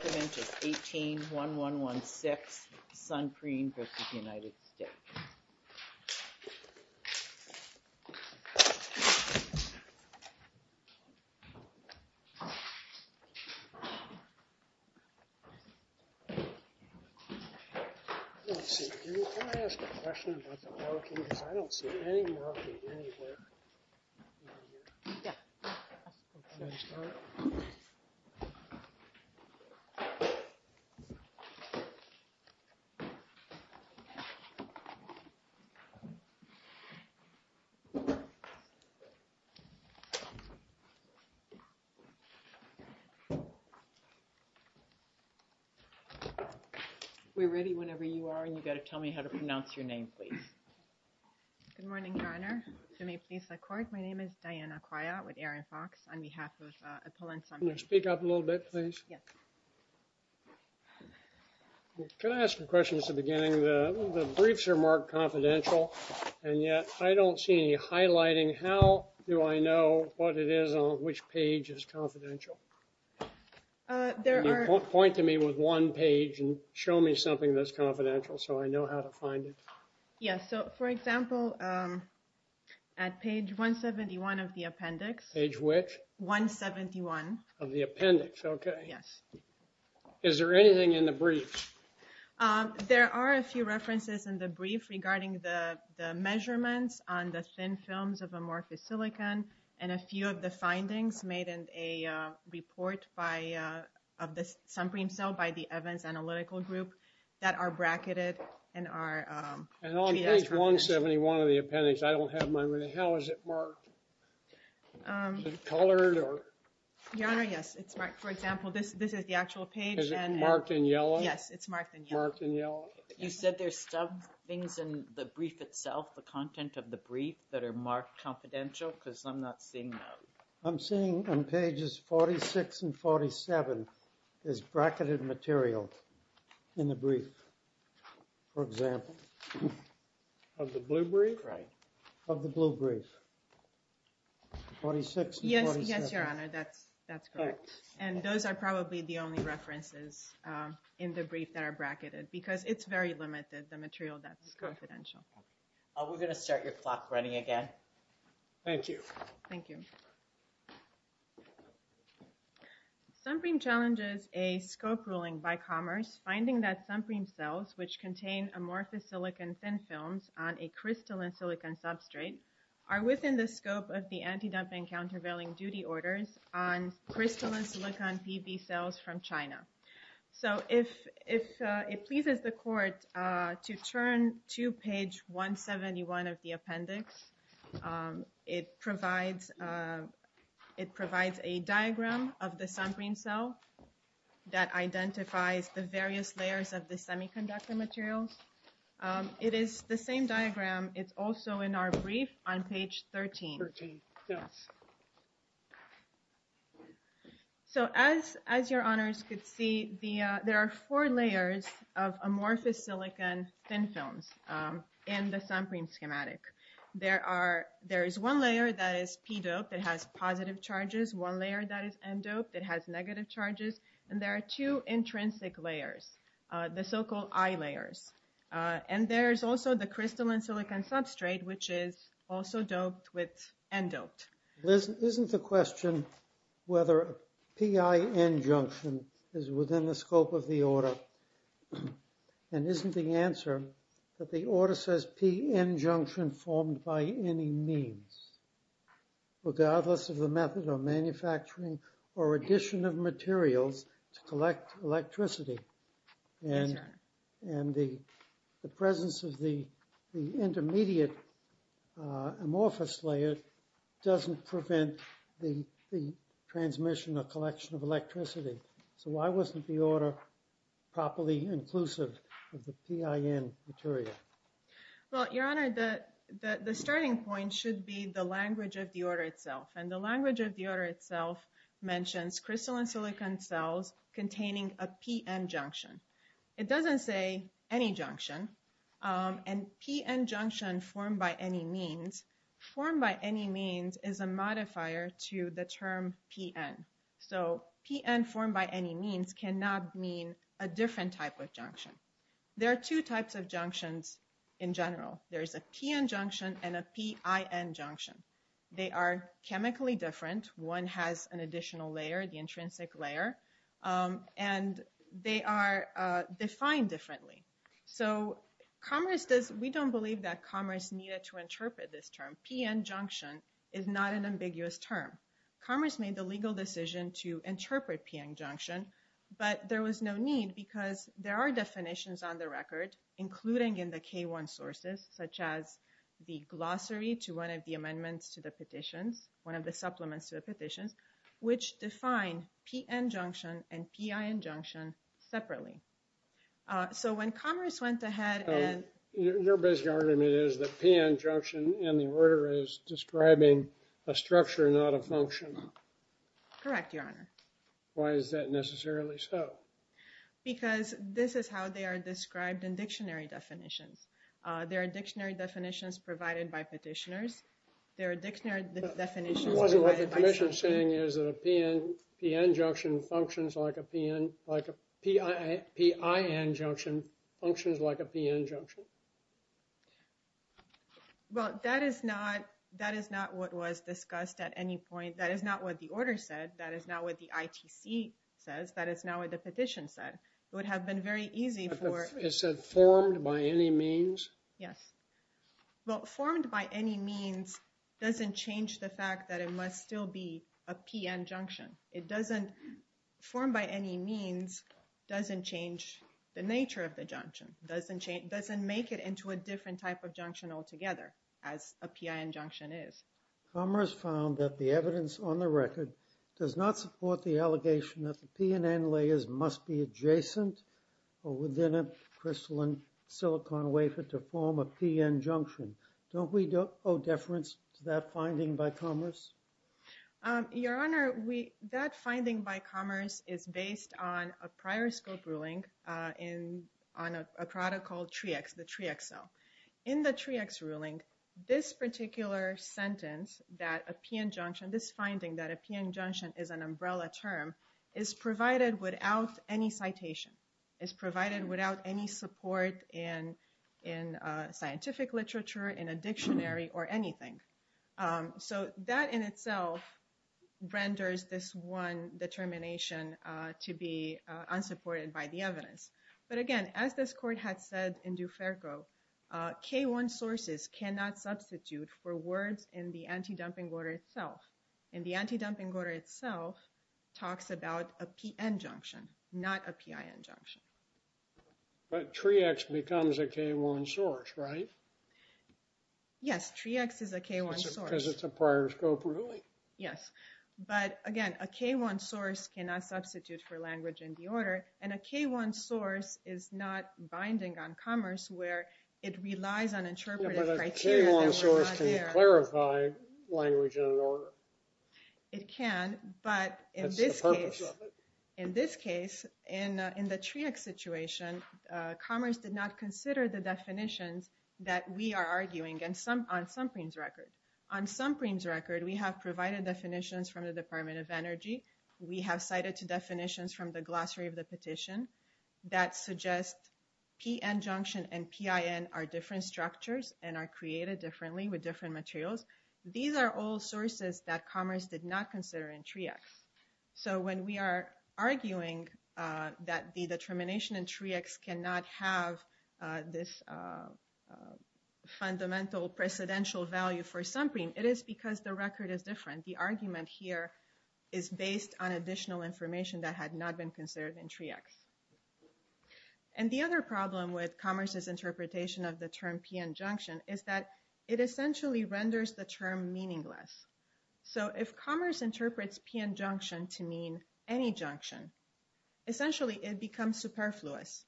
18-1-1-1-6 Sunpreme v. United States We're ready whenever you are, and you've got to tell me how to pronounce your name, please. Good morning, Garner. Can you speak up a little bit, please? Yes. Can I ask a question at the beginning? The briefs are marked confidential, and yet I don't see any highlighting. How do I know what it is on which page is confidential? Point to me with one page and show me something that's confidential so I know how to find it. Yes. So, for example, at page 171 of the appendix. Page which? 171. Of the appendix. Okay. Yes. Is there anything in the brief? There are a few references in the brief regarding the measurements on the thin films of amorphous silicon and a few of the findings made in a report of the sunbeam cell by the Evans Analytical Group that are bracketed and are... And on page 171 of the appendix, I don't have my... How is it marked? Is it colored or... Garner, yes. It's marked. For example, this is the actual page and... Is it marked in yellow? Yes, it's marked in yellow. Marked in yellow. You said there's some things in the brief itself, the content of the brief, that are marked confidential because I'm not seeing those. I'm seeing on pages 46 and 47, there's bracketed material in the brief, for example. Of the blue brief? Right. Of the blue brief. 46 and 47. Yes, Your Honor. That's correct. And those are probably the only references in the brief that are bracketed because it's very limited, the material that's confidential. We're going to start your clock running again. Thank you. Thank you. Suncream challenges a scope ruling by Commerce, finding that Suncream cells, which contain amorphous silicon thin films on a crystalline silicon substrate, are within the scope of the anti-dumping countervailing duty orders on crystalline silicon PB cells from China. So, if it pleases the court to turn to page 171 of the appendix, it provides a diagram of the Suncream cell that identifies the various layers of the semiconductor materials. It is the same diagram. It's also in our brief on page 13. 13, yes. So, as your honors could see, there are four layers of amorphous silicon thin films in the Suncream schematic. There is one layer that is P-doped. It has positive charges. One layer that is N-doped. It has negative charges. And there are two intrinsic layers, the so-called I-layers. And there is also the crystalline silicon substrate, which is also doped with N-doped. Isn't the question whether P-I-N junction is within the scope of the order, and isn't the answer that the order says P-N junction formed by any means, regardless of the method of manufacturing or addition of materials to collect electricity? Yes, sir. And the presence of the intermediate amorphous layer doesn't prevent the transmission or collection of electricity. So why wasn't the order properly inclusive of the P-I-N material? Well, your honor, the starting point should be the language of the order itself. And the language of the order itself mentions crystalline silicon cells containing a P-N junction. It doesn't say any junction. And P-N junction formed by any means, formed by any means is a modifier to the term P-N. So P-N formed by any means cannot mean a different type of junction. There are two types of junctions in general. There is a P-N junction and a P-I-N junction. They are chemically different. One has an additional layer, the intrinsic layer. And they are defined differently. So we don't believe that commerce needed to interpret this term. P-N junction is not an ambiguous term. Commerce made the legal decision to interpret P-N junction. But there was no need because there are definitions on the record, including in the K-1 sources, such as the glossary to one of the amendments to the petitions, one of the P-N junction and P-I-N junction separately. So when commerce went ahead and... Your basic argument is that P-N junction in the order is describing a structure, not a function. Correct, Your Honor. Why is that necessarily so? Because this is how they are described in dictionary definitions. There are dictionary definitions provided by petitioners. There are dictionary definitions provided by... Your submission saying is that a P-N junction functions like a P-N... Like a P-I-N junction functions like a P-N junction. Well, that is not what was discussed at any point. That is not what the order said. That is not what the ITC says. That is not what the petition said. It would have been very easy for... It said formed by any means? Yes. Well, formed by any means doesn't change the fact that it must still be a P-N junction. It doesn't... Formed by any means doesn't change the nature of the junction, doesn't make it into a different type of junction altogether as a P-I-N junction is. Commerce found that the evidence on the record does not support the allegation that the P-N layers must be adjacent or within a crystalline silicon wafer to form a P-N junction. Don't we owe deference to that finding by Commerce? Your Honor, that finding by Commerce is based on a prior scope ruling on a product called TREEx, the TREEx cell. In the TREEx ruling, this particular sentence that a P-N junction, this finding that a P-N junction is an umbrella term, is provided without any citation, is provided without any support in scientific literature, in a dictionary, or anything. So that in itself renders this one determination to be unsupported by the evidence. But again, as this court had said in Duferco, K-1 sources cannot substitute for words in the anti-dumping order itself. And the anti-dumping order itself talks about a P-N junction, not a P-I-N junction. But TREEx becomes a K-1 source, right? Yes, TREEx is a K-1 source. Because it's a prior scope ruling? Yes. But again, a K-1 source cannot substitute for language in the order, and a K-1 source is not binding on commerce, where it relies on interpretive criteria. But a K-1 source can clarify language in an order. It can, but in this case, in the TREEx situation, commerce did not consider the definitions that we are arguing, on some PREEMS records. On some PREEMS records, we have provided definitions from the Department of Energy. We have cited two definitions from the glossary of the petition that suggest P-N junction and P-I-N are different structures and are created differently with different materials. These are all sources that commerce did not consider in TREEx. So when we are arguing that the determination in TREEx cannot have this fundamental precedential value for some PREEMS, it is because the record is different. And the argument here is based on additional information that had not been considered in TREEx. And the other problem with commerce's interpretation of the term P-N junction is that it essentially renders the term meaningless. So if commerce interprets P-N junction to mean any junction, essentially it becomes superfluous.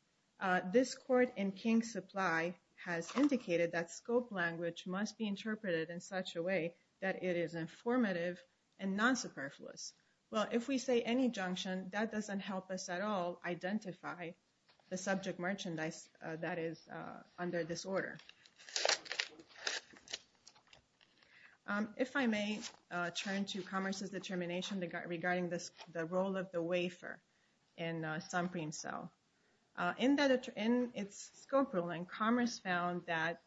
This court in King Supply has indicated that scope language must be interpreted in such a way that it is informative and non-superfluous. Well, if we say any junction, that doesn't help us at all identify the subject merchandise that is under this order. If I may turn to commerce's determination regarding the role of the wafer in some PREEMS cell. In its scope ruling, commerce found that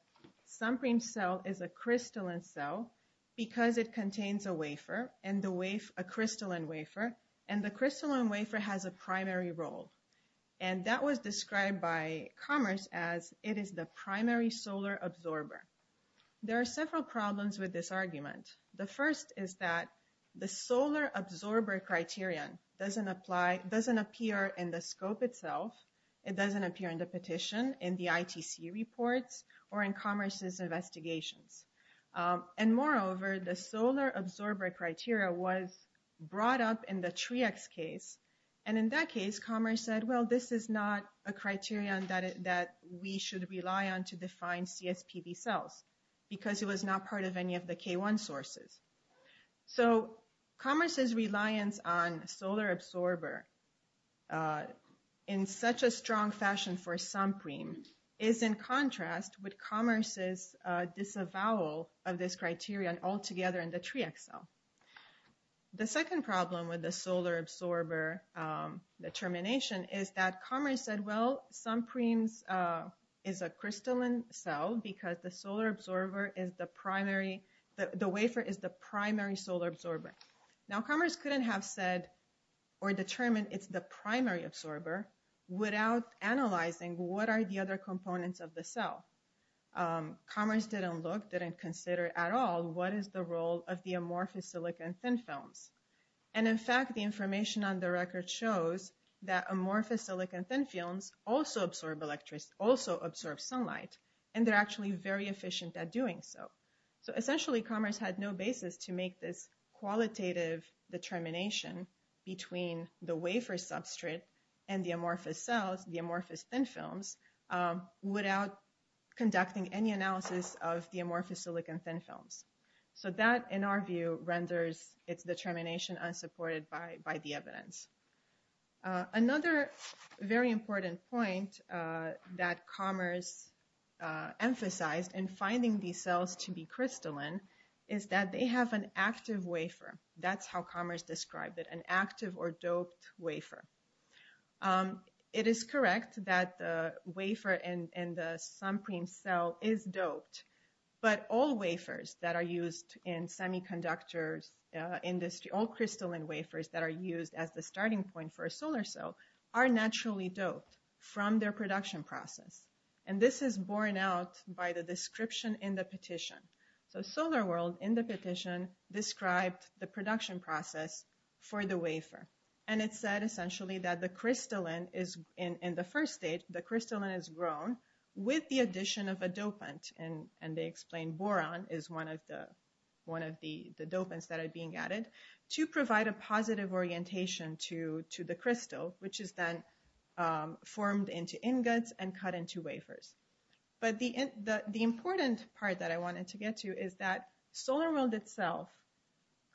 some PREEMS cell is a crystalline cell because it contains a wafer, a crystalline wafer, and the crystalline wafer has a primary role. And that was described by commerce as it is the primary solar absorber. There are several problems with this argument. The first is that the solar absorber criterion doesn't appear in the scope itself. It doesn't appear in the petition, in the ITC reports, or in commerce's investigations. And moreover, the solar absorber criteria was brought up in the TREEx case. And in that case, commerce said, well, this is not a criterion that we should rely on to define CSPB cells because it was not part of any of the K1 sources. So commerce's reliance on solar absorber in such a strong fashion for some PREEMS is in contrast with commerce's disavowal of this criterion altogether in the TREEx cell. The second problem with the solar absorber determination is that commerce said, well, some PREEMS is a crystalline cell because the wafer is the primary solar absorber. Now, commerce couldn't have said or determined it's the primary absorber without analyzing what are the other components of the cell. Commerce didn't look, didn't consider at all what is the role of the amorphous silicon thin films. And in fact, the information on the record shows that amorphous silicon thin films also absorb electricity, also absorb sunlight, and they're actually very efficient at doing so. So essentially, commerce had no basis to make this qualitative determination between the wafer substrate and the amorphous cells, the amorphous thin films, without conducting any analysis of the amorphous silicon thin films. So that, in our view, renders its determination unsupported by the evidence. Another very important point that commerce emphasized in finding these cells to be crystalline is that they have an active wafer. That's how commerce described it, an active or doped wafer. It is correct that the wafer in the SunPREEM cell is doped, but all wafers that are used in semiconductors industry, all crystalline wafers that are used as the starting point for a solar cell, are naturally doped from their production process. And this is borne out by the description in the petition. So SolarWorld, in the petition, described the production process for the wafer. And it said, essentially, that the crystalline is, in the first stage, the crystalline is grown with the addition of a dopant. And they explained boron is one of the dopants that are being added. To provide a positive orientation to the crystal, which is then formed into ingots and cut into wafers. But the important part that I wanted to get to is that SolarWorld itself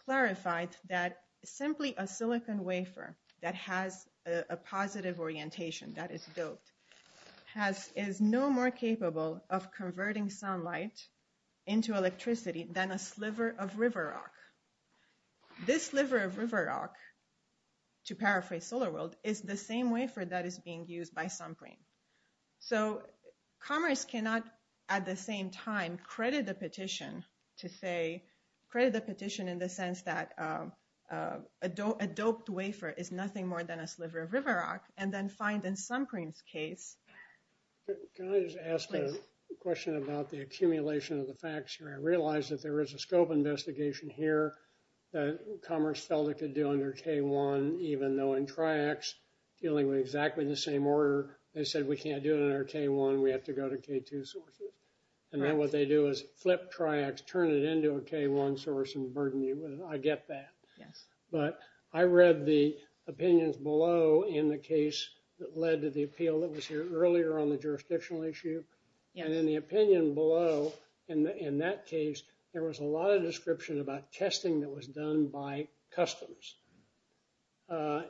clarified that simply a silicon wafer that has a positive orientation, that is doped, is no more capable of converting sunlight into electricity than a sliver of river rock. This sliver of river rock, to paraphrase SolarWorld, is the same wafer that is being used by SunPREEM. So Commerce cannot, at the same time, credit the petition to say, credit the petition in the sense that a doped wafer is nothing more than a sliver of river rock, and then find in SunPREEM's case... Can I just ask a question about the accumulation of the facts here? I realize that there is a scope investigation here that Commerce felt it could do under K-1, even though in TRIACS, dealing with exactly the same order, they said we can't do it under K-1. We have to go to K-2 sources. And then what they do is flip TRIACS, turn it into a K-1 source, and burden you with it. I get that. But I read the opinions below in the case that led to the appeal that was here earlier on the jurisdictional issue. And in the opinion below, in that case, there was a lot of description about testing that was done by Customs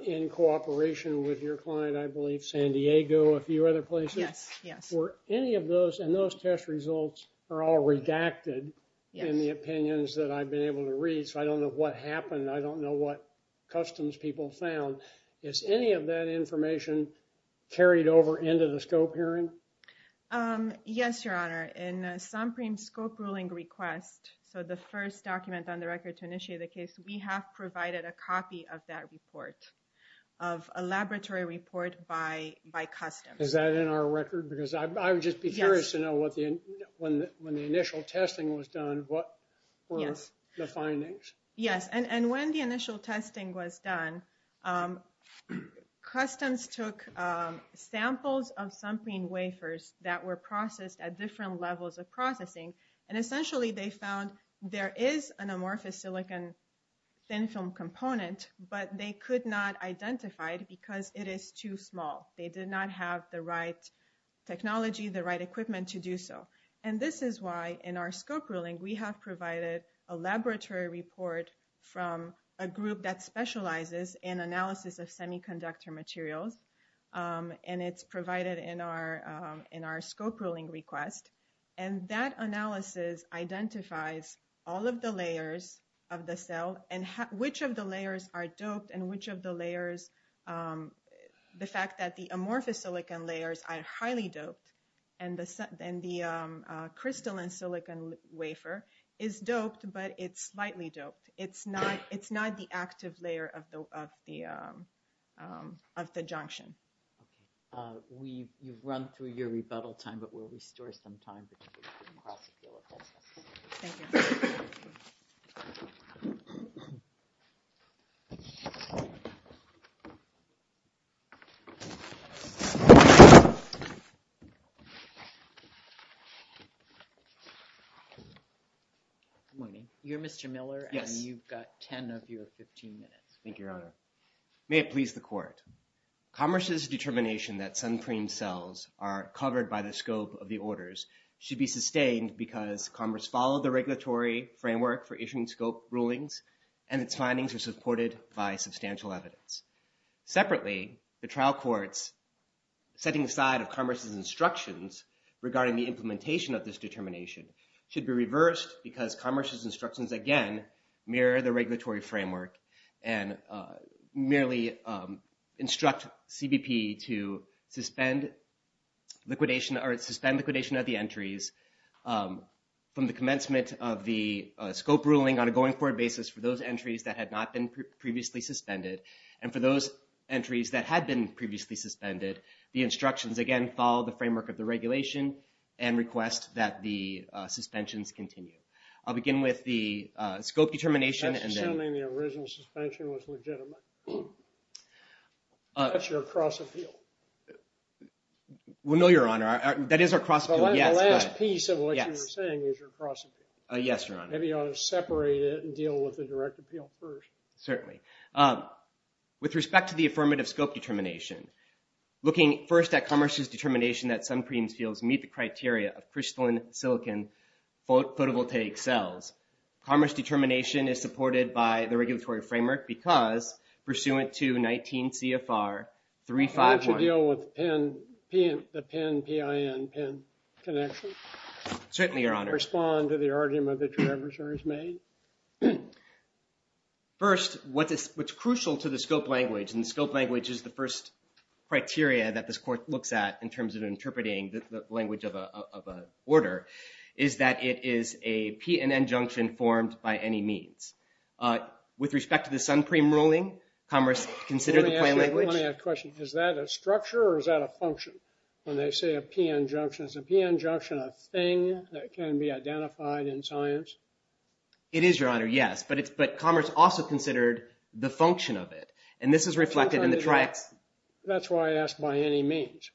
in cooperation with your client, I believe, San Diego, a few other places. Yes, yes. Were any of those, and those test results are all redacted in the opinions that I've been able to read, so I don't know what happened. I don't know what Customs people found. Is any of that information carried over into the scope hearing? Yes, Your Honor. In SOMPREME's scope ruling request, so the first document on the record to initiate the case, we have provided a copy of that report, of a laboratory report by Customs. Is that in our record? Because I would just be curious to know when the initial testing was done, what were the findings? Yes. And when the initial testing was done, Customs took samples of SOMPREME wafers that were processed at different levels of processing, and essentially they found there is an amorphous silicon thin film component, but they could not identify it because it is too small. They did not have the right technology, the right equipment to do so. And this is why in our scope ruling, we have provided a laboratory report from a group that specializes in analysis of semiconductor materials, and it's provided in our scope ruling request. And that analysis identifies all of the layers of the cell, and which of the layers are doped and which of the layers, the fact that the amorphous silicon layers are highly doped, and the crystalline silicon wafer is doped, but it's slightly doped. It's not the active layer of the junction. We've run through your rebuttal time, but we'll restore some time. Thank you. Good morning. You're Mr. Miller, and you've got 10 of your 15 minutes. Thank you, Your Honor. May it please the court. Commerce's determination that SOMPREME cells are covered by the scope of the orders should be sustained because Commerce followed the regulatory framework for issuing scope rulings, and its findings are supported by substantial evidence. Separately, the trial courts setting aside of Commerce's instructions regarding the implementation of this determination should be reversed because Commerce's instructions, again, mirror the regulatory framework and merely instruct CBP to suspend liquidation of the entries from the commencement of the scope ruling on a going-forward basis for those entries that had not been previously suspended, and for those entries that had been previously suspended, the instructions, again, follow the framework of the regulation and request that the suspensions continue. I'll begin with the scope determination. That's assuming the original suspension was legitimate. That's your cross-appeal. Well, no, Your Honor. That is our cross-appeal. The last piece of what you were saying is your cross-appeal. Yes, Your Honor. Maybe you ought to separate it and deal with the direct appeal first. Certainly. With respect to the affirmative scope determination, looking first at Commerce's determination that SOMPREME cells meet the criteria of crystalline silicon photovoltaic cells, Commerce's determination is supported by the regulatory framework because pursuant to 19 CFR 351. Why don't you deal with the PIN-PIN connection? Certainly, Your Honor. Respond to the argument that your adversary has made. First, what's crucial to the scope language, and the scope language is the first criteria that this court looks at in terms of interpreting the language of an order, is that it is a P and N junction formed by any means. With respect to the SOMPREME ruling, Commerce considered the plain language. Let me ask you a question. Is that a structure or is that a function? When they say a PN junction, is a PN junction a thing that can be identified in science? It is, Your Honor, yes. But Commerce also considered the function of it, and this is reflected in the triax. That's why I asked by any means.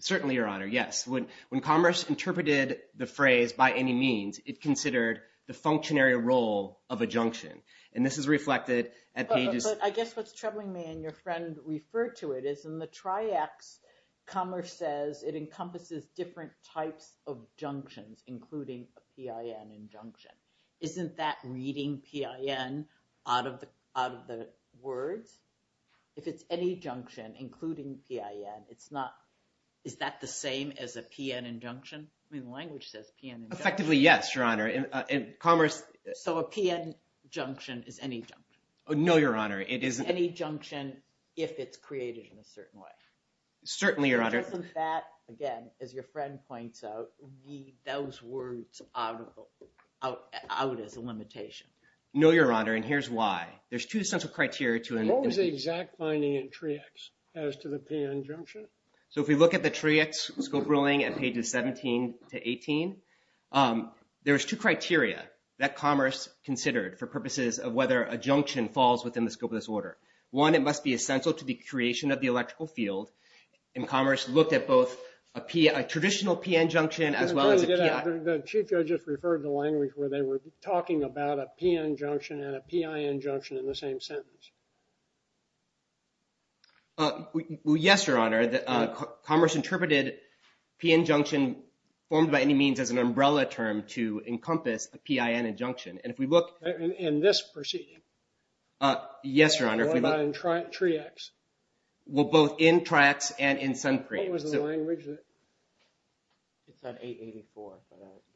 Certainly, Your Honor, yes. When Commerce interpreted the phrase by any means, it considered the functionary role of a junction, and this is reflected at pages. But I guess what's troubling me, and your friend referred to it, is in the triax, Commerce says it encompasses different types of junctions, including a PIN and junction. Isn't that reading PIN out of the words? If it's any junction, including PIN, is that the same as a PN and junction? I mean, the language says PN and junction. Effectively, yes, Your Honor. So a PN junction is any junction? No, Your Honor. It's any junction if it's created in a certain way. Certainly, Your Honor. Doesn't that, again, as your friend points out, leave those words out as a limitation? No, Your Honor, and here's why. There's two essential criteria to it. What was the exact finding in triax as to the PN junction? So if we look at the triax scope ruling at pages 17 to 18, there's two criteria that Commerce considered for purposes of whether a junction falls within the scope of this order. One, it must be essential to the creation of the electrical field, and Commerce looked at both a traditional PN junction as well as a PIN. The Chief Judge just referred to the language where they were talking about PN junction and a PIN junction in the same sentence. Yes, Your Honor. Commerce interpreted PN junction formed by any means as an umbrella term to encompass a PIN and junction, and if we look at this proceeding. Yes, Your Honor. In triax. Well, both in triax and in sun cream. What was the language? It's at 884.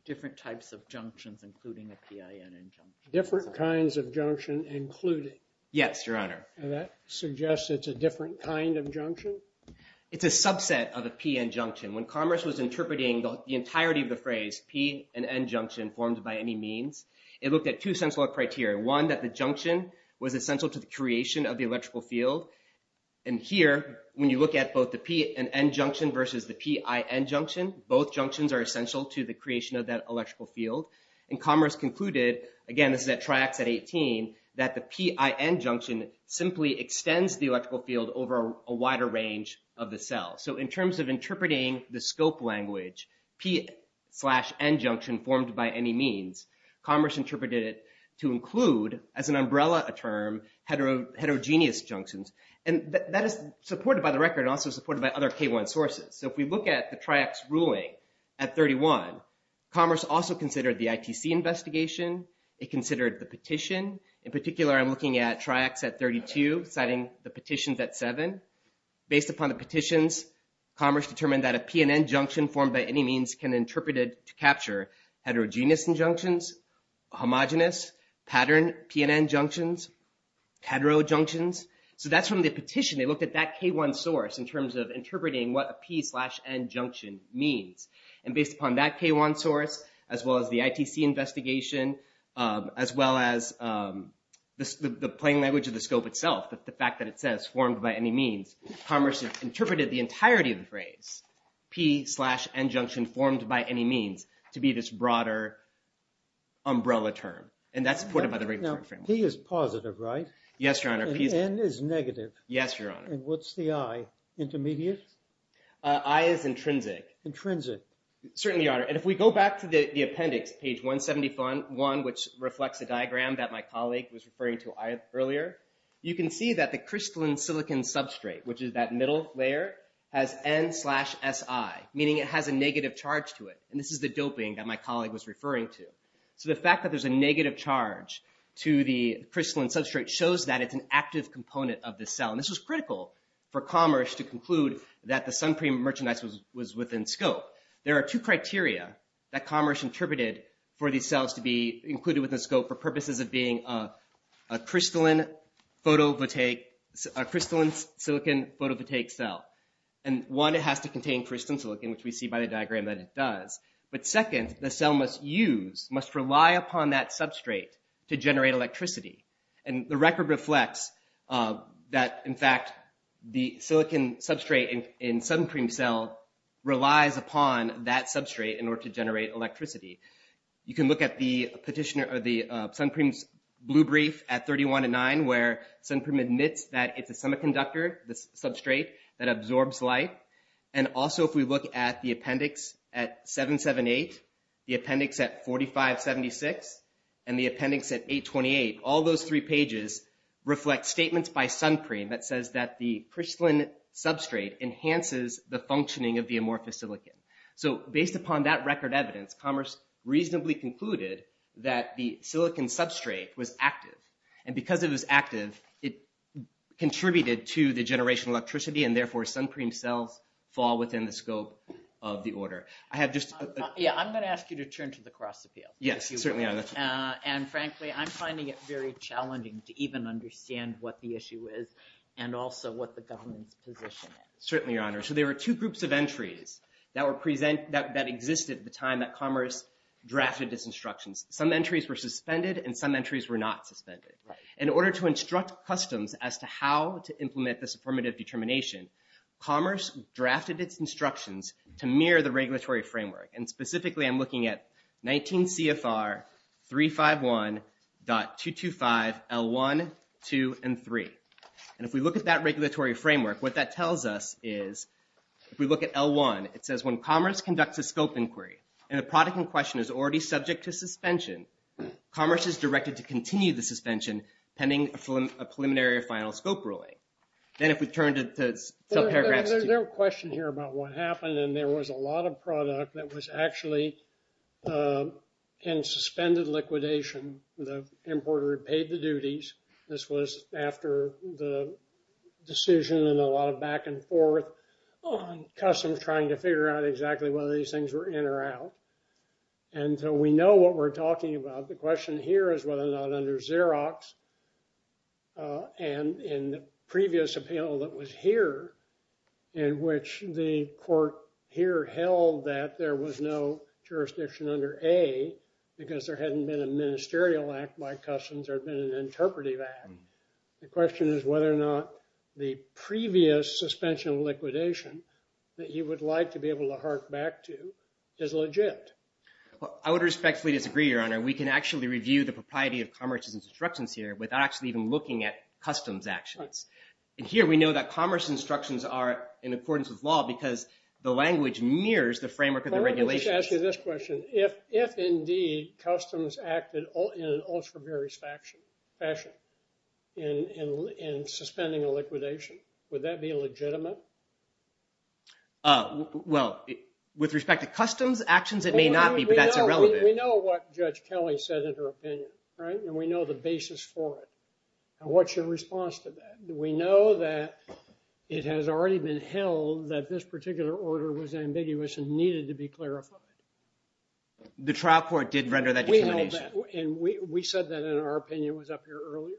Different types of junctions including a PIN and junction. Different kinds of junction included. Yes, Your Honor. And that suggests it's a different kind of junction? It's a subset of a PN junction. When Commerce was interpreting the entirety of the phrase P and N junction formed by any means, it looked at two essential criteria. One, that the junction was essential to the creation of the electrical field, and here when you look at both the P and N junction versus the PIN junction, both junctions are essential to the creation of that electrical field. And Commerce concluded, again, this is at triax at 18, that the PIN junction simply extends the electrical field over a wider range of the cell. So in terms of interpreting the scope language, P slash N junction formed by any means, Commerce interpreted it to include as an umbrella a term heterogeneous junctions, and that is supported by the record and also supported by other K1 sources. So if we look at the triax ruling at 31, Commerce also considered the ITC investigation. It considered the petition. In particular, I'm looking at triax at 32, citing the petitions at 7. Based upon the petitions, Commerce determined that a P and N junction formed by any means can interpret it to capture heterogeneous junctions, homogenous pattern P and N junctions, hetero junctions. So that's from the petition. They looked at that K1 source in terms of interpreting what a P slash N junction means. And based upon that K1 source, as well as the ITC investigation, as well as the plain language of the scope itself, the fact that it says formed by any means, Commerce interpreted the entirety of the phrase, P slash N junction formed by any means, to be this broader umbrella term. And that's supported by the regulatory framework. Now, P is positive, right? Yes, Your Honor. And N is negative. Yes, Your Honor. And what's the I? Intermediate? I is intrinsic. Intrinsic. Certainly, Your Honor. And if we go back to the appendix, page 171, which reflects the diagram that my colleague was referring to earlier, you can see that the crystalline silicon substrate, which is that middle layer, has N slash SI, meaning it has a negative charge to it. And this is the doping that my colleague was referring to. So the fact that there's a negative charge to the crystalline substrate shows that it's an active component of the cell. And this was critical for Commerce to conclude that the sun cream merchandise was within scope. There are two criteria that Commerce interpreted for these cells to be included within scope for purposes of being a crystalline silicon photovoltaic cell. And one, it has to contain crystalline silicon, which we see by the diagram that it does. But second, the cell must use, must rely upon that substrate to generate electricity. And the record reflects that, in fact, the silicon substrate in sun cream cell relies upon that substrate in order to generate electricity. You can look at the petitioner or the sun cream's blue brief at 31 to 9, where sun cream admits that it's a semiconductor, the substrate that absorbs light. And also, if we look at the appendix at 778, the appendix at 4576, and the appendix at 828, all those three pages reflect statements by sun cream that says that the crystalline substrate enhances the functioning of the amorphous silicon. So based upon that record evidence, Commerce reasonably concluded that the silicon substrate was active. And because it was active, it contributed to the generation of electricity, and therefore sun cream cells fall within the scope of the order. Yeah, I'm going to ask you to turn to the cross appeal. Yes, certainly, Your Honor. And frankly, I'm finding it very challenging to even understand what the issue is and also what the government's position is. Certainly, Your Honor. So there were two groups of entries that existed at the time that Commerce drafted its instructions. Some entries were suspended, and some entries were not suspended. In order to instruct customs as to how to implement this affirmative determination, Commerce drafted its instructions to mirror the regulatory framework. And specifically, I'm looking at 19 CFR 351.225L1, 2, and 3. And if we look at that regulatory framework, what that tells us is if we look at L1, it says when Commerce conducts a scope inquiry and a product in question is already subject to suspension, Commerce is directed to continue the suspension pending a preliminary or final scope ruling. Then if we turn to paragraph 2. There's no question here about what happened, and there was a lot of product that was actually in suspended liquidation. The importer had paid the duties. This was after the decision and a lot of back and forth on customs trying to figure out exactly whether these things were in or out. And so we know what we're talking about. The question here is whether or not under Xerox and in the previous appeal that was here in which the court here held that there was no jurisdiction under A because there hadn't been a ministerial act by customs or been an interpretive act. The question is whether or not the previous suspension liquidation that you would like to be able to hark back to is legit. Well, I would respectfully disagree, Your Honor. We can actually review the propriety of Commerce's instructions here without actually even looking at customs actions. And here we know that Commerce's instructions are in accordance with law because the language mirrors the framework of the regulations. Well, let me just ask you this question. If indeed customs acted in an ultra-various fashion in suspending a liquidation, would that be legitimate? Well, with respect to customs actions, it may not be, but that's irrelevant. We know what Judge Kelly said in her opinion, right? And we know the basis for it. What's your response to that? We know that it has already been held that this particular order was ambiguous and needed to be clarified. The trial court did render that determination. We know that. And we said that in our opinion was up here earlier.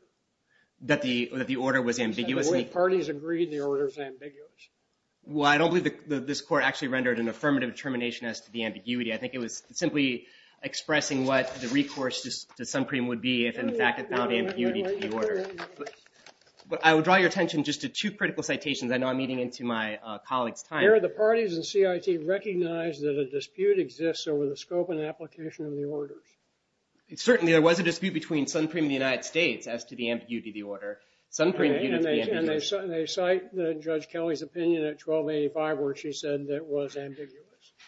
That the order was ambiguous? The parties agreed the order was ambiguous. Well, I don't believe that this court actually rendered an affirmative determination as to the ambiguity. I think it was simply expressing what the recourse to Suncream would be if, in fact, it found ambiguity to the order. But I would draw your attention just to two critical citations. I know I'm eating into my colleague's time. Here, the parties in CIT recognized that a dispute exists over the scope and application of the orders. Certainly, there was a dispute between Suncream and the United States as to the ambiguity of the order. Suncream viewed it to be ambiguous. And they cite Judge Kelly's opinion at 1285 where she said it was ambiguous.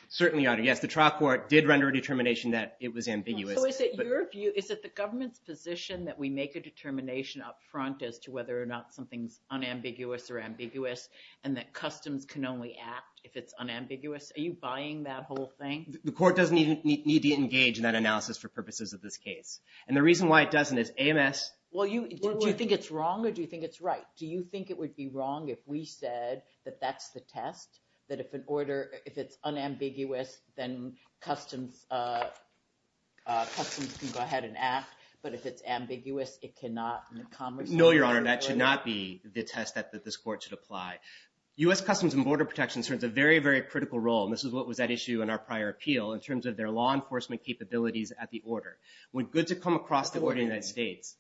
Certainly, Your Honor. Yes, the trial court did render a determination that it was ambiguous. So is it your view, is it the government's position that we make a decision up front as to whether or not something's unambiguous or ambiguous and that customs can only act if it's unambiguous? Are you buying that whole thing? The court doesn't even need to engage in that analysis for purposes of this case. And the reason why it doesn't is AMS… Well, do you think it's wrong or do you think it's right? Do you think it would be wrong if we said that that's the test? That if an order, if it's unambiguous, then customs can go ahead and act. But if it's ambiguous, it cannot… No, Your Honor. That should not be the test that this court should apply. U.S. Customs and Border Protection serves a very, very critical role. And this is what was at issue in our prior appeal in terms of their law enforcement capabilities at the order. When goods come across the border of the United States…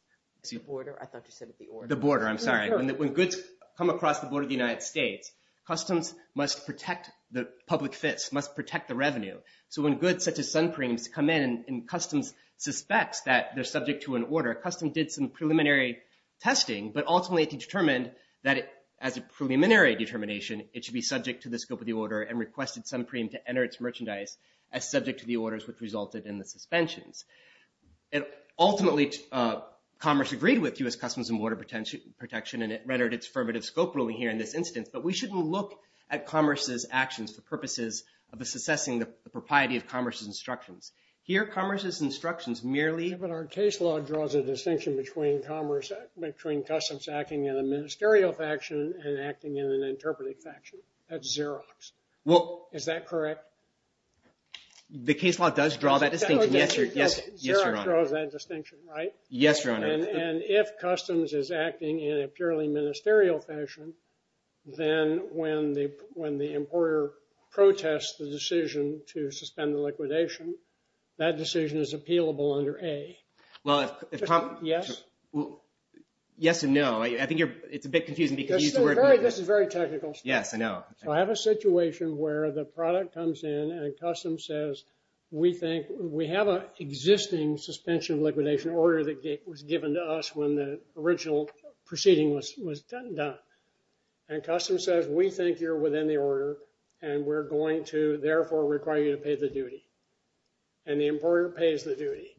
The border? I thought you said the order. The border. I'm sorry. When goods come across the border of the United States, customs must protect the public fits, must protect the revenue. So when goods such as sun creams come in and customs suspects that they're subject to an order, customs did some preliminary testing, but ultimately determined that as a preliminary determination, it should be subject to the scope of the order and requested sun cream to enter its merchandise as subject to the orders which resulted in the suspensions. Ultimately, commerce agreed with U.S. Customs and Border Protection and it rendered its affirmative scope ruling here in this instance. But we shouldn't look at commerce's actions for purposes of assessing the propriety of commerce's instructions. Here, commerce's instructions merely… But our case law draws a distinction between commerce, between customs acting in a ministerial faction and acting in an interpretive faction. That's Xerox. Well… Is that correct? The case law does draw that distinction. Yes, Your Honor. Xerox draws that distinction, right? Yes, Your Honor. And if customs is acting in a purely ministerial fashion, then when the importer protests the decision to suspend the liquidation, that decision is appealable under A. Well, if… Yes? Yes and no. I think you're… It's a bit confusing because you used the word… This is very technical. Yes, I know. So I have a situation where the product comes in and customs says, we think… We have an existing suspension of liquidation order that was given to us when the original proceeding was done. And customs says, we think you're within the order and we're going to therefore require you to pay the duty. And the importer pays the duty.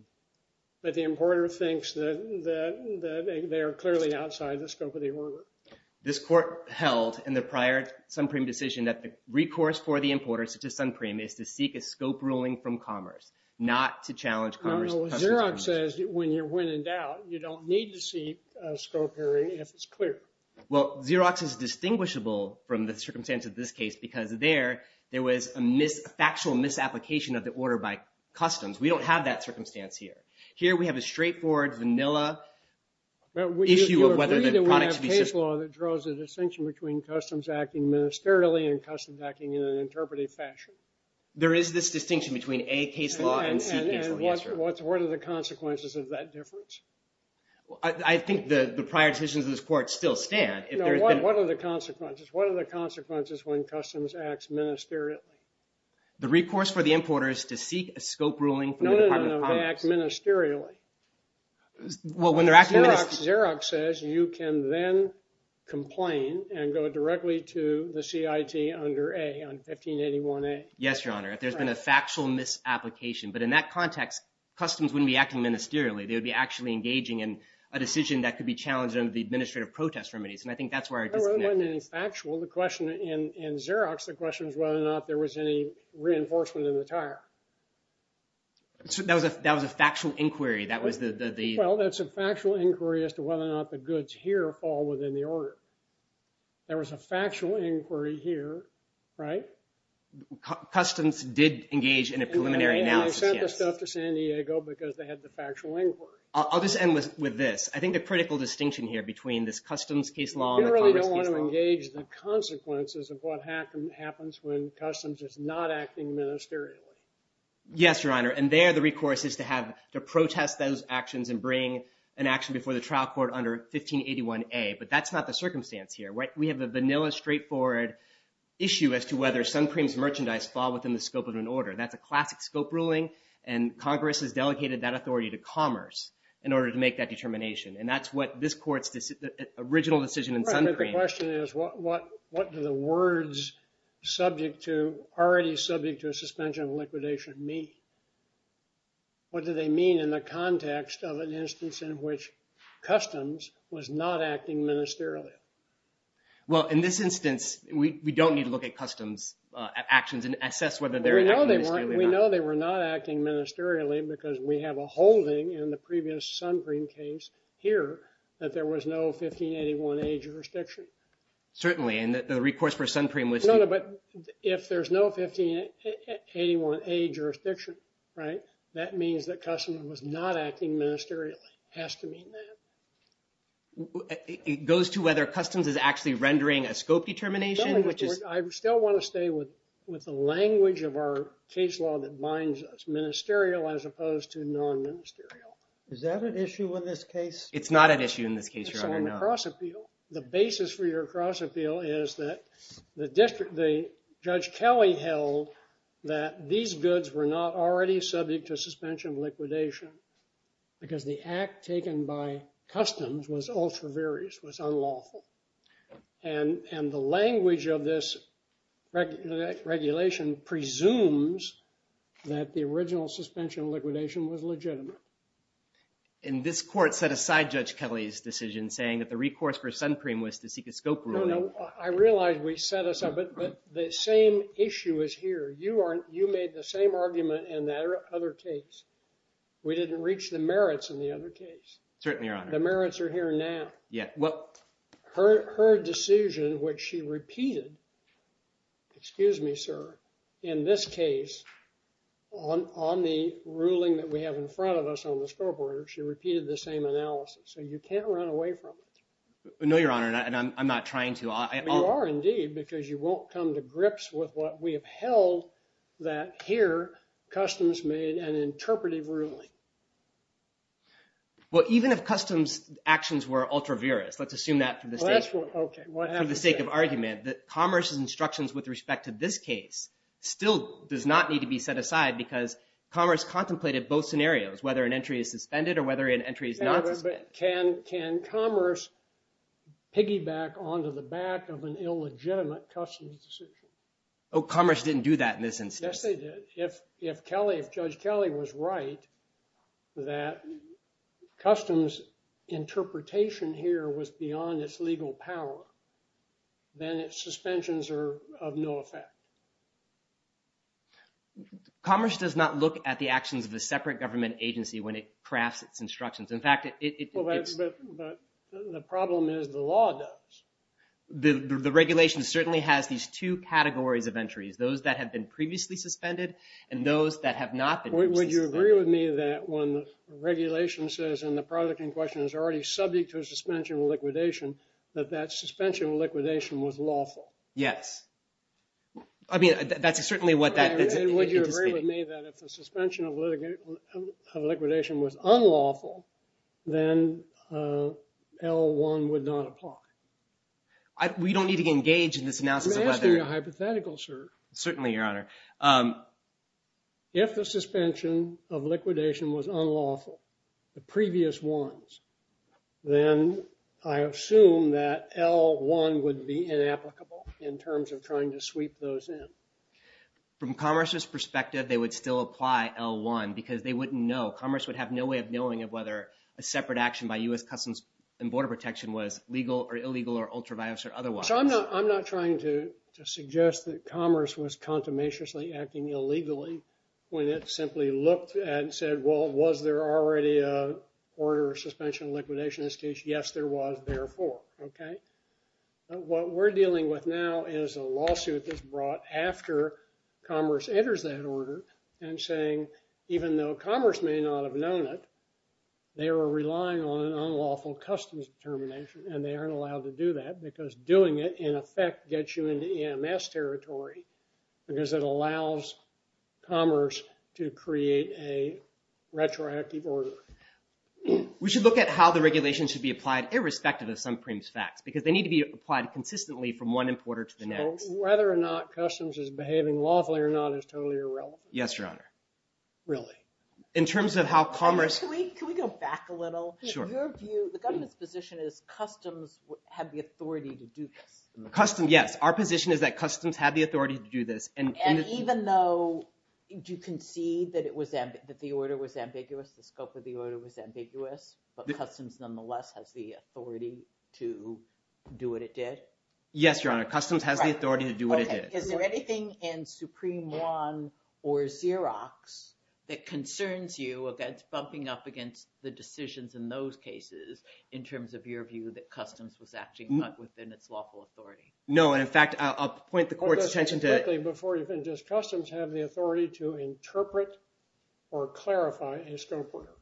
But the importer thinks that they are clearly outside the scope of the order. This court held in the prior Sunpreme decision that the recourse for the importers to Sunpreme is to seek a scope ruling from commerce, not to challenge commerce… No, no. Xerox says when you're when in doubt, you don't need to seek a scope hearing if it's clear. Well, Xerox is distinguishable from the circumstance of this case because there, there was a factual misapplication of the order by customs. We don't have that circumstance here. Here we have a straightforward, vanilla issue of whether the product should be… We agree that we have case law that draws a distinction between customs acting ministerially and customs acting in an interpretive fashion. There is this distinction between A, case law, and C, case law. And what are the consequences of that difference? I think the prior decisions of this court still stand. What are the consequences? What are the consequences when customs acts ministerially? The recourse for the importers to seek a scope ruling from the Department of Commerce. No, no, no. They act ministerially. Well, when they're acting ministerially… Xerox says you can then complain and go directly to the CIT under A, on 1581A. Yes, Your Honor. If there's been a factual misapplication. But in that context, customs wouldn't be acting ministerially. They would be actually engaging in a decision that could be challenged under the administrative protest remedies. And I think that's where our disconnect is. It wasn't factual. The question in Xerox, the question is whether or not there was any reinforcement in the tire. That was a factual inquiry. That was the… Well, that's a factual inquiry as to whether or not the goods here fall within the order. There was a factual inquiry here, right? Customs did engage in a preliminary analysis, yes. They left off to San Diego because they had the factual inquiry. I'll just end with this. I think the critical distinction here between this customs case law and the commerce case law… You really don't want to engage the consequences of what happens when customs is not acting ministerially. Yes, Your Honor. And there, the recourse is to protest those actions and bring an action before the trial court under 1581A. But that's not the circumstance here, right? merchandise fall within the scope of an order. That's a classic scope ruling. And Congress has delegated that authority to commerce in order to make that determination. And that's what this court's original decision in Suncream… Right, but the question is what do the words already subject to a suspension of liquidation mean? What do they mean in the context of an instance in which customs was not acting ministerially? Well, in this instance, we don't need to look at customs actions and assess whether they're acting ministerially or not. Well, we know they were not acting ministerially because we have a holding in the previous Suncream case here that there was no 1581A jurisdiction. Certainly, and the recourse for Suncream was… No, no, but if there's no 1581A jurisdiction, right, that means that customs was not acting ministerially. It has to mean that. It goes to whether customs is actually rendering a scope determination, which is… I still want to stay with the language of our case law that binds us, ministerial as opposed to non-ministerial. Is that an issue in this case? It's not an issue in this case, Your Honor, no. It's on the cross-appeal. The basis for your cross-appeal is that the judge Kelly held that these goods were not already subject to suspension of liquidation because the act taken by customs was ultra-various, was unlawful. And the language of this regulation presumes that the original suspension of liquidation was legitimate. And this court set aside Judge Kelly's decision saying that the recourse for Suncream was to seek a scope ruling. No, no, I realize we set us up, but the same issue is here. You made the same argument in that other case. We didn't reach the merits in the other case. Certainly, Your Honor. The merits are here now. Her decision, which she repeated, excuse me, sir, in this case, on the ruling that we have in front of us on the scope order, she repeated the same analysis. So you can't run away from it. No, Your Honor, and I'm not trying to. You are indeed because you won't come to grips with what we have held that here customs made an interpretive ruling. Well, even if customs' actions were ultra-various, let's assume that for the sake of argument, that Commerce's instructions with respect to this case still does not need to be set aside because Commerce contemplated both scenarios, whether an entry is suspended or whether an entry is not suspended. Can Commerce piggyback onto the back of an illegitimate customs decision? Oh, Commerce didn't do that in this instance. Yes, they did. If Judge Kelly was right that customs' interpretation here was beyond its legal power, then its suspensions are of no effect. Commerce does not look at the actions of a separate government agency when it crafts its instructions. In fact, it's… But the problem is the law does. The regulation certainly has these two categories of entries, those that have been previously suspended and those that have not been previously suspended. Would you agree with me that when the regulation says, and the product in question is already subject to a suspension of liquidation, that that suspension of liquidation was lawful? Yes. I mean, that's certainly what that… Would you agree with me that if the suspension of liquidation was unlawful, then L-1 would not apply? We don't need to engage in this analysis of whether… It's hypothetical, sir. Certainly, Your Honor. If the suspension of liquidation was unlawful, the previous ones, then I assume that L-1 would be inapplicable in terms of trying to sweep those in. From Commerce's perspective, they would still apply L-1 because they wouldn't know. Commerce would have no way of knowing of whether a separate action by U.S. Customs and Border Protection was legal or illegal or ultraviolet or otherwise. I'm not trying to suggest that Commerce was contumaciously acting illegally when it simply looked and said, well, was there already an order of suspension of liquidation in this case? Yes, there was, therefore. What we're dealing with now is a lawsuit that's brought after Commerce enters that order and saying, even though Commerce may not have known it, they were relying on an unlawful customs determination and they aren't allowed to do that because doing it, in effect, gets you into EMS territory because it allows Commerce to create a retroactive order. We should look at how the regulations should be applied irrespective of some preemptive facts because they need to be applied consistently from one importer to the next. Whether or not Customs is behaving lawfully or not is totally irrelevant. Yes, Your Honor. Really? In terms of how Commerce… Can we go back a little? Sure. So your view, the government's position is Customs had the authority to do this. Customs, yes. Our position is that Customs had the authority to do this. And even though you can see that the order was ambiguous, the scope of the order was ambiguous, but Customs nonetheless has the authority to do what it did? Yes, Your Honor. Customs has the authority to do what it did. Is there anything in Supreme Law or Xerox that concerns you against bumping up against the decisions in those cases in terms of your view that Customs was actually not within its lawful authority? No. And in fact, I'll point the court's attention to… Before you've been discussed, does Customs have the authority to interpret or clarify a scope order?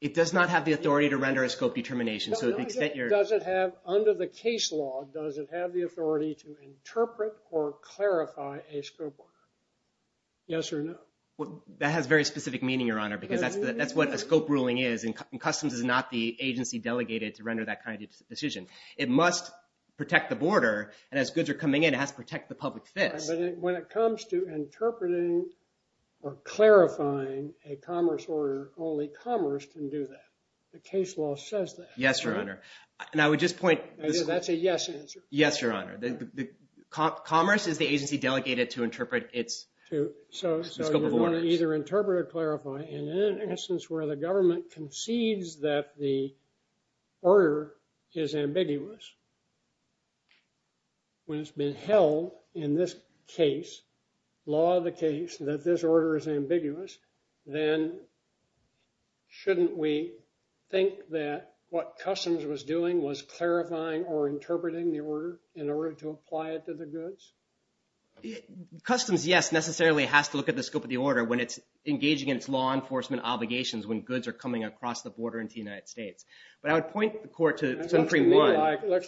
It does not have the authority to render a scope determination. So to the extent you're… Does it have, under the case law, does it have the authority to interpret or clarify a scope order? Yes or no? Well, that has very specific meaning, Your Honor, because that's what a scope ruling is, and Customs is not the agency delegated to render that kind of decision. It must protect the border, and as goods are coming in, it has to protect the public fix. But when it comes to interpreting or clarifying a commerce order, only commerce can do that. The case law says that. Yes, Your Honor. And I would just point… That's a yes answer. Yes, Your Honor. Commerce is the agency delegated to interpret its… So you want to either interpret or clarify, and in an instance where the government concedes that the order is ambiguous, when it's been held in this case, law of the case, that this order is ambiguous, then shouldn't we think that what Customs was doing was clarifying or interpreting the order in order to apply it to the goods? Customs, yes, necessarily has to look at the scope of the order when it's engaging in its law enforcement obligations when goods are coming across the border into the United States. But I would point the court to… It looks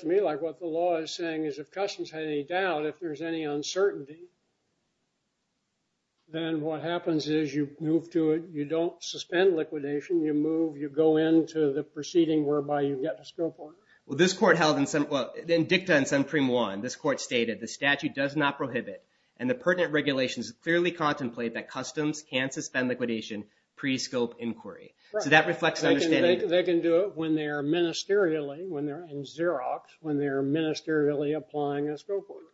to me like what the law is saying is if Customs had any doubt, if there's any uncertainty, then what happens is you move to it. You don't suspend liquidation. You move. You go into the proceeding whereby you get the scope order. Well, this court held in… In dicta in Supreme 1, this court stated the statute does not prohibit, and the pertinent regulations clearly contemplate that Customs can suspend liquidation pre-scope inquiry. So that reflects an understanding… They can do it when they're ministerially, when they're in Xerox, when they're ministerially applying a scope order.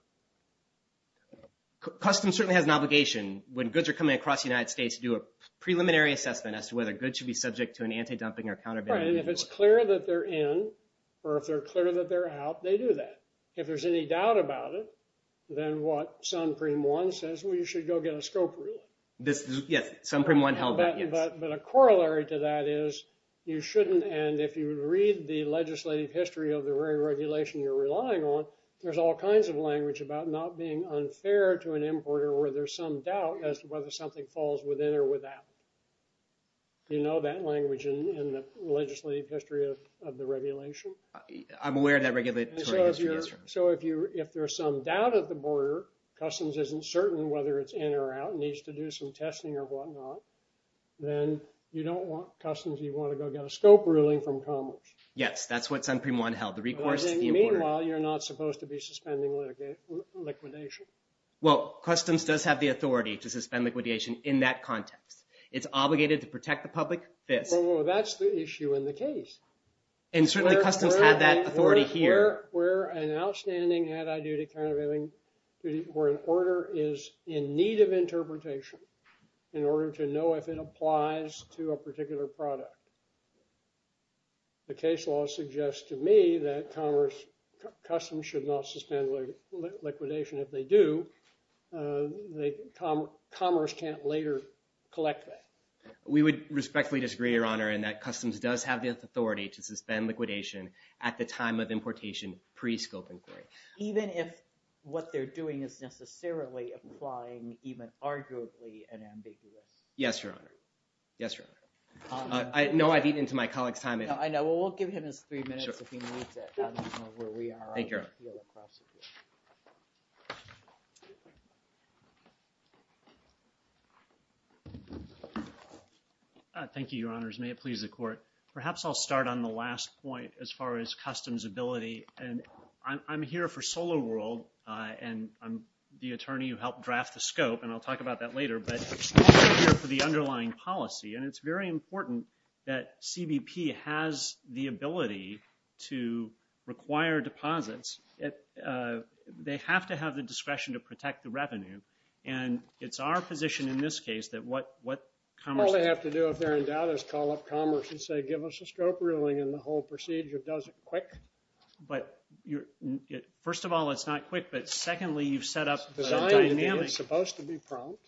Customs certainly has an obligation when goods are coming across the United States to do a preliminary assessment as to whether goods should be subject to an anti-dumping or counter-banning… Right, and if it's clear that they're in or if they're clear that they're out, they do that. If there's any doubt about it, then what Supreme 1 says, well, you should go get a scope rule. Yes, Supreme 1 held that, yes. But a corollary to that is you shouldn't, and if you read the legislative history of the very regulation you're relying on, there's all kinds of language about not being unfair to an importer where there's some doubt as to whether something falls within or without. Do you know that language in the legislative history of the regulation? I'm aware of that regulatory history, yes. So if there's some doubt at the border, Customs isn't certain whether it's in or out, needs to do some testing or whatnot, then you don't want Customs, you want to go get a scope ruling from Commerce. Yes, that's what Supreme 1 held. Meanwhile, you're not supposed to be suspending liquidation. Well, Customs does have the authority to suspend liquidation in that context. It's obligated to protect the public. Well, that's the issue in the case. And certainly Customs had that authority here. We're an outstanding anti-duty kind of thing where an order is in need of interpretation in order to know if it applies to a particular product. The case law suggests to me that Commerce, Customs should not suspend liquidation. If they do, Commerce can't later collect that. We would respectfully disagree, Your Honor, in that Customs does have the authority to suspend liquidation at the time of importation pre-scope inquiry. Even if what they're doing is necessarily applying even arguably an ambiguous... Yes, Your Honor. Yes, Your Honor. No, I've eaten into my colleague's time. I know. Well, we'll give him his three minutes if he needs it. Thank you, Your Honor. Absolutely. Thank you, Your Honors. May it please the Court. Perhaps I'll start on the last point as far as Customs' ability. And I'm here for SolarWorld, and I'm the attorney who helped draft the scope, and I'll talk about that later. But I'm here for the underlying policy, and it's very important that CBP has the ability to require deposits. They have to have the discretion to protect the revenue. And it's our position in this case that what Commerce... All they have to do, if they're in doubt, is call up Commerce and say, give us a scope ruling, and the whole procedure does it quick. But... First of all, it's not quick, but secondly, you've set up a dynamic... Because I think it's supposed to be prompt.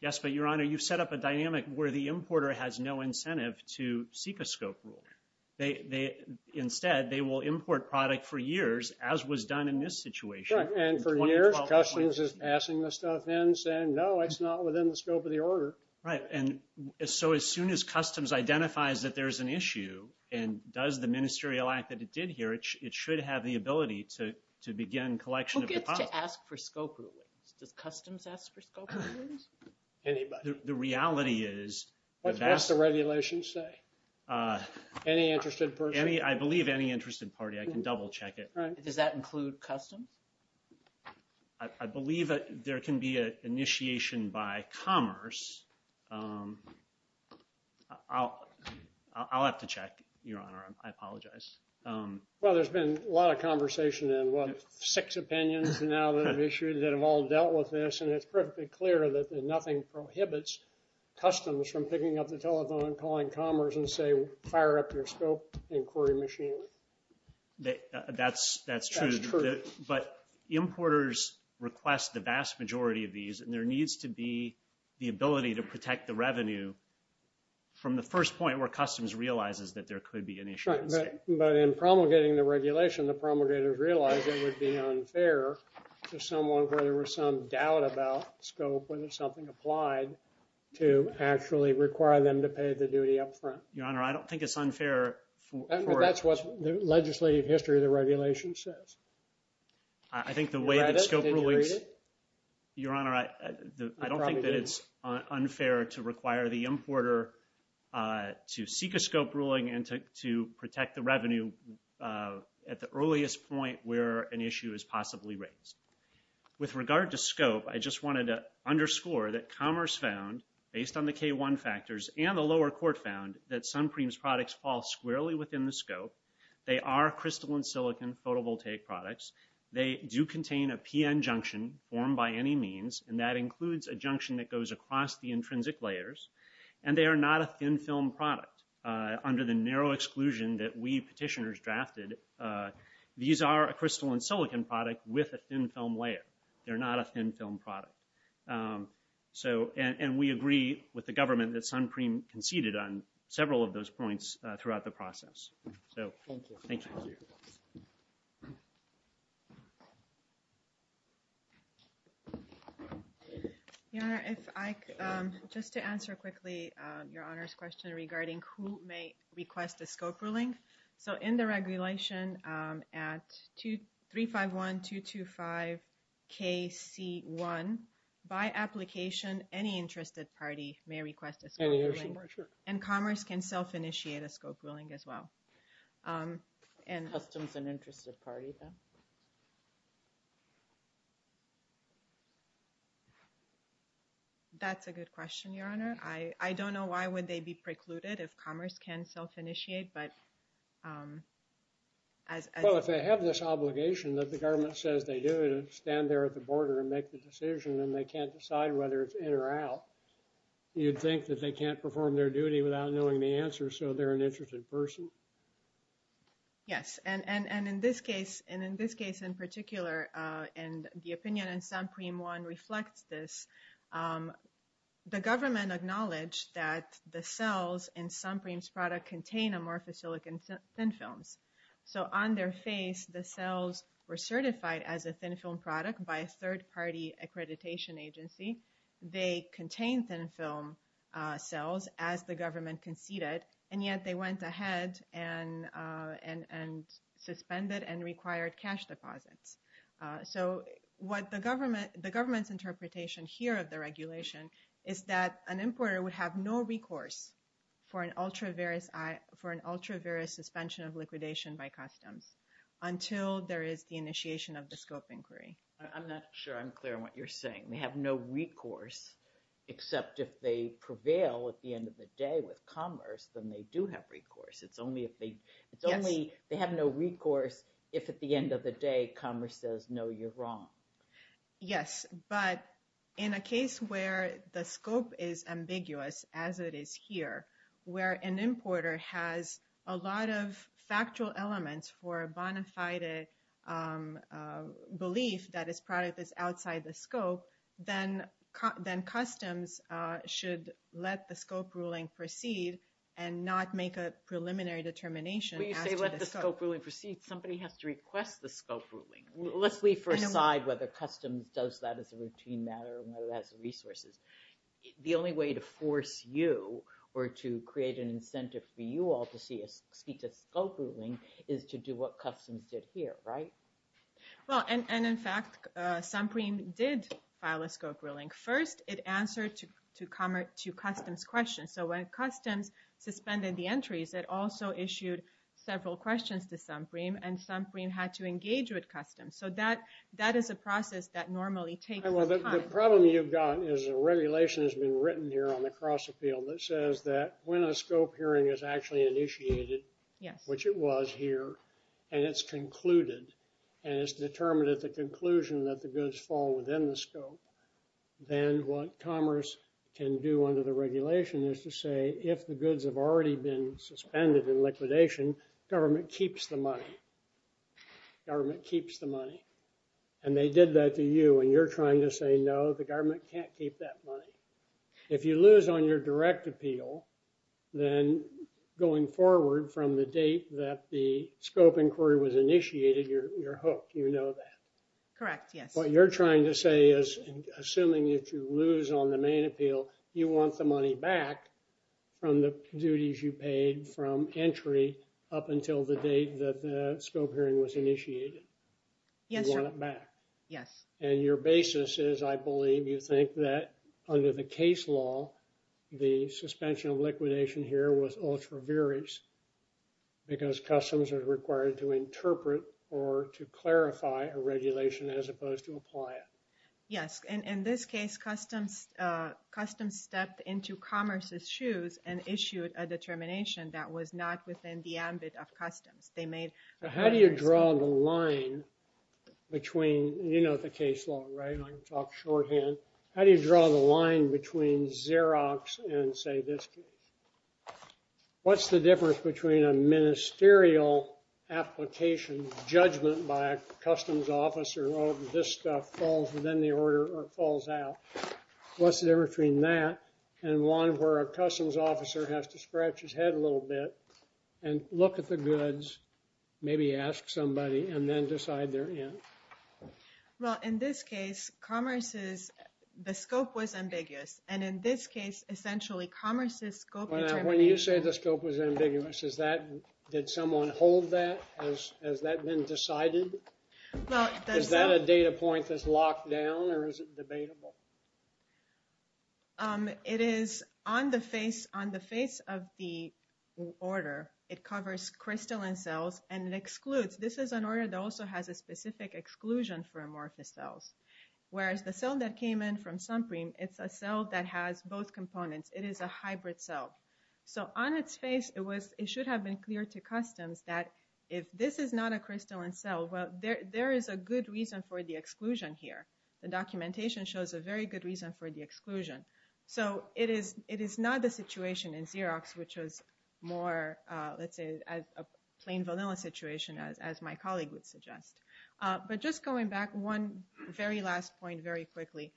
Yes, but, Your Honor, you've set up a dynamic where the importer has no incentive to seek a scope ruling. Instead, they will import product for years, as was done in this situation. Right, and for years, Customs is passing this stuff in, saying, no, it's not within the scope of the order. Right, and so as soon as Customs identifies that there's an issue, and does the ministerial act that it did here, it should have the ability to begin collection of deposits. Who gets to ask for scope rulings? Does Customs ask for scope rulings? Anybody. The reality is... What does the regulations say? Any interested person. I believe any interested party. I can double-check it. Does that include Customs? I believe there can be an initiation by Commerce. I'll have to check, Your Honor. I apologize. Well, there's been a lot of conversation, and what, six opinions now that have issued that have all dealt with this, and it's perfectly clear that nothing prohibits Customs from picking up the telephone and calling Commerce and say, fire up your scope inquiry machine. That's true. That's true. But importers request the vast majority of these, and there needs to be the ability to protect the revenue from the first point where Customs realizes that there could be an issue. Right, but in promulgating the regulation, the promulgators realize it would be unfair to someone where there was some doubt about scope, when there's something applied, to actually require them to pay the duty up front. Your Honor, I don't think it's unfair for... That's what the legislative history of the regulation says. I think the way that scope rulings... Your Honor, I don't think that it's unfair to require the importer to seek a scope ruling and to protect the revenue at the earliest point where an issue is possibly raised. With regard to scope, I just wanted to underscore that Commerce found, based on the K-1 factors and the lower court found, that Suncream's products fall squarely within the scope. They are crystalline silicon photovoltaic products. They do contain a PN junction formed by any means, and that includes a junction that goes across the intrinsic layers, and they are not a thin-film product. Under the narrow exclusion that we petitioners drafted, these are a crystalline silicon product with a thin-film layer. They're not a thin-film product. So, and we agree with the government that Suncream conceded on several of those points throughout the process. So, thank you. Your Honor, if I could... Just to answer quickly Your Honor's question regarding who may request a scope ruling. So, in the regulation at 3-5-1-2-2-5-K-C-1, by application, any interested party may request a scope ruling. And Commerce can self-initiate a scope ruling as well. Customs and interested parties, then? That's a good question, Your Honor. I don't know why would they be precluded if Commerce can self-initiate, but as... Well, if they have this obligation that the government says they do, to stand there at the border and make the decision, and they can't decide whether it's in or out, you'd think that they can't perform their duty without knowing the answer, so they're an interested person? Yes. And in this case, in particular, and the opinion in Suncream 1 reflects this, the government acknowledged that the cells in Suncream's product contain amorphous silicon thin films. So, on their face, the cells were certified as a thin film product by a third-party accreditation agency. They contained thin film cells as the government conceded, and yet they went ahead and suspended and required cash deposits. So, what the government's interpretation here of the regulation is that an importer would have no recourse for an ultra-various suspension of liquidation by customs until there is the initiation of the scope inquiry. I'm not sure I'm clear on what you're saying. They have no recourse except if they prevail at the end of the day with Commerce, then they do have recourse. It's only if they... Yes. It's only they have no recourse if at the end of the day Commerce says, no, you're wrong. Yes, but in a case where the scope is ambiguous as it is here, where an importer has a lot of factual elements for a bona fide belief that his product is outside the scope, then customs should let the scope ruling proceed and not make a preliminary determination as to the scope. When you say let the scope ruling proceed, somebody has to request the scope ruling. Let's leave for a side whether customs does that as a routine matter or whether that's resources. The only way to force you or to create an incentive for you all to speak to the scope ruling is to do what customs did here, right? Well, and in fact, SOMPREME did file a scope ruling. First, it answered to Customs questions. So when Customs suspended the entries, it also issued several questions to SOMPREME and SOMPREME had to engage with Customs. So that is a process that normally takes time. Well, the problem you've got is a regulation has been written here on the cross-appeal that says that when a scope hearing is actually initiated, which it was here, and it's concluded and it's determined at the conclusion that the goods fall within the scope, then what commerce can do under the regulation is to say if the goods have already been suspended and liquidation, government keeps the money. Government keeps the money. And they did that to you and you're trying to say, no, the government can't keep that money. If you lose on your direct appeal, then going forward from the date that the scope inquiry was initiated, you're hooked, you know that. Correct, yes. What you're trying to say is assuming that you lose on the main appeal, you want the money back from the duties you paid from entry up until the date that the scope hearing was initiated. Yes, sir. You want it back. Yes. And your basis is, I believe, you think that under the case law, the suspension of liquidation here was ultra-various because customs are required to interpret or to clarify a regulation as opposed to apply it. Yes, and in this case, customs stepped into commerce's shoes and issued a determination that was not within the ambit of customs. They made... How do you draw the line between... You know the case law, right? I can talk shorthand. How do you draw the line between Xerox and, say, this case? What's the difference between a ministerial application judgment by a customs officer where this stuff falls within the order or falls out? What's the difference between that and one where a customs officer has to scratch his head a little bit and look at the goods, maybe ask somebody, and then decide they're in? Well, in this case, commerce's... The scope was ambiguous, and in this case, essentially, commerce's scope determination... When you say the scope was ambiguous, is that... Did someone hold that? Has that been decided? Is that a data point that's locked down or is it debatable? It is... On the face of the order, it covers crystalline cells, and it excludes... This is an order that also has a specific exclusion for amorphous cells, whereas the cell that came in from Sunprime, it's a cell that has both components. It is a hybrid cell. So on its face, it should have been clear to customs that if this is not a crystalline cell, well, there is a good reason for the exclusion here. The documentation shows a very good reason for the exclusion. So it is not the situation in Xerox which was more, let's say, a plain vanilla situation, as my colleague would suggest. But just going back, one very last point very quickly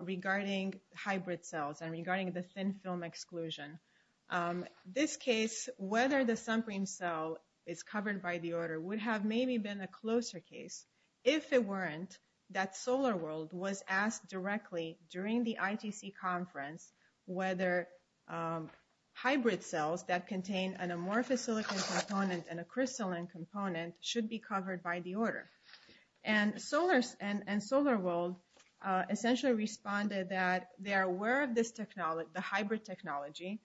regarding hybrid cells and regarding the thin film exclusion. This case, whether the Sunprime cell is covered by the order, would have maybe been a closer case if it weren't that SolarWorld was asked directly during the ITC conference whether hybrid cells that contain an amorphous silicon component and a crystalline component should be covered by the order. And SolarWorld essentially responded that they are aware of this technology, the hybrid technology.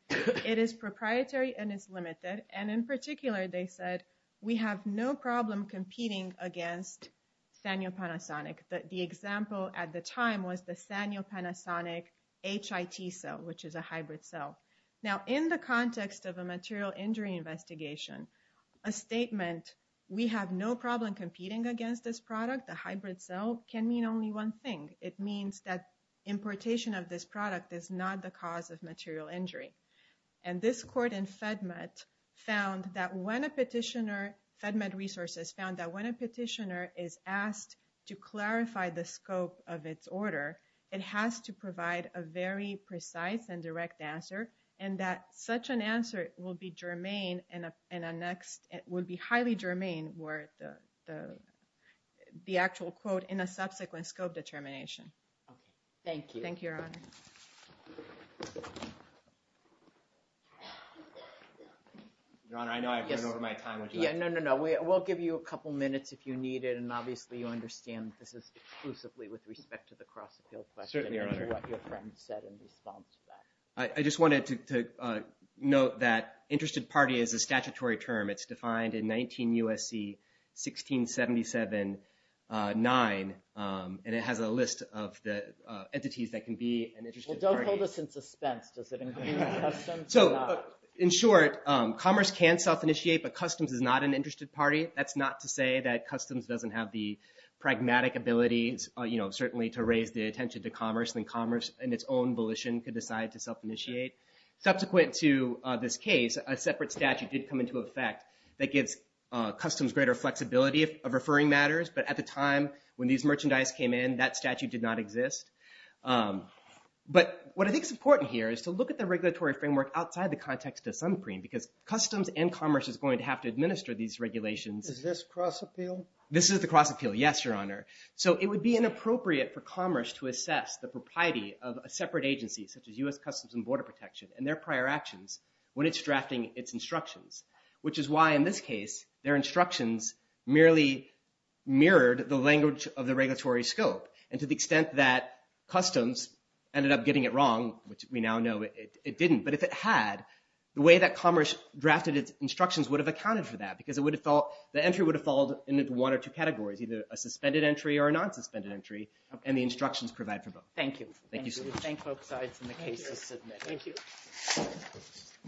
It is proprietary and it's limited. And in particular, they said, we have no problem competing against Sanyo Panasonic. The example at the time was the Sanyo Panasonic HIT cell, which is a hybrid cell. Now in the context of a material injury investigation, a statement, we have no problem competing against this product, the hybrid cell, can mean only one thing. It means that importation of this product is not the cause of material injury. And this court in FedMed found that when a petitioner, FedMed resources found that when a petitioner is asked to clarify the scope of its order, it has to provide a very precise and direct answer and that such an answer will be germane and a next, it will be highly germane where the actual quote in a subsequent scope determination. Thank you. Thank you, Your Honor. Your Honor, I know I've run over my time. Yeah, no, no, no. We'll give you a couple minutes if you need it. And obviously you understand this is exclusively with respect to the cross-appeal question. Certainly, Your Honor. And what your friend said in response to that. I just wanted to note that interested party is a statutory term. It's defined in 19 U.S.C. 1677-9. And it has a list of the entities that can be an interested party. Well, don't hold us in suspense. Does it include customs or not? So in short, commerce can self-initiate, but customs is not an interested party. That's not to say that customs doesn't have the pragmatic abilities, you know, certainly to raise the attention to commerce and commerce in its own volition could decide to self-initiate. Subsequent to this case, a separate statute did come into effect that gives customs greater flexibility of referring matters. But at the time when these merchandise came in, that statute did not exist. But what I think is important here is to look at the regulatory framework outside the context of sunscreen because customs and commerce is going to have to administer these regulations. Is this cross-appeal? This is the cross-appeal. Yes, Your Honor. So it would be inappropriate for commerce to assess the propriety of a separate agency such as U.S. Customs and Border Protection and their prior actions when it's drafting its instructions, which is why in this case their instructions merely mirrored the language of the regulatory scope. And to the extent that customs ended up getting it wrong, which we now know it didn't, but if it had, the way that commerce drafted its instructions would have accounted for that because the entry would have falled into one or two categories, either a suspended entry or a non-suspended entry, and the instructions provide for both. Thank you. Thank you. Thank you. Thank you.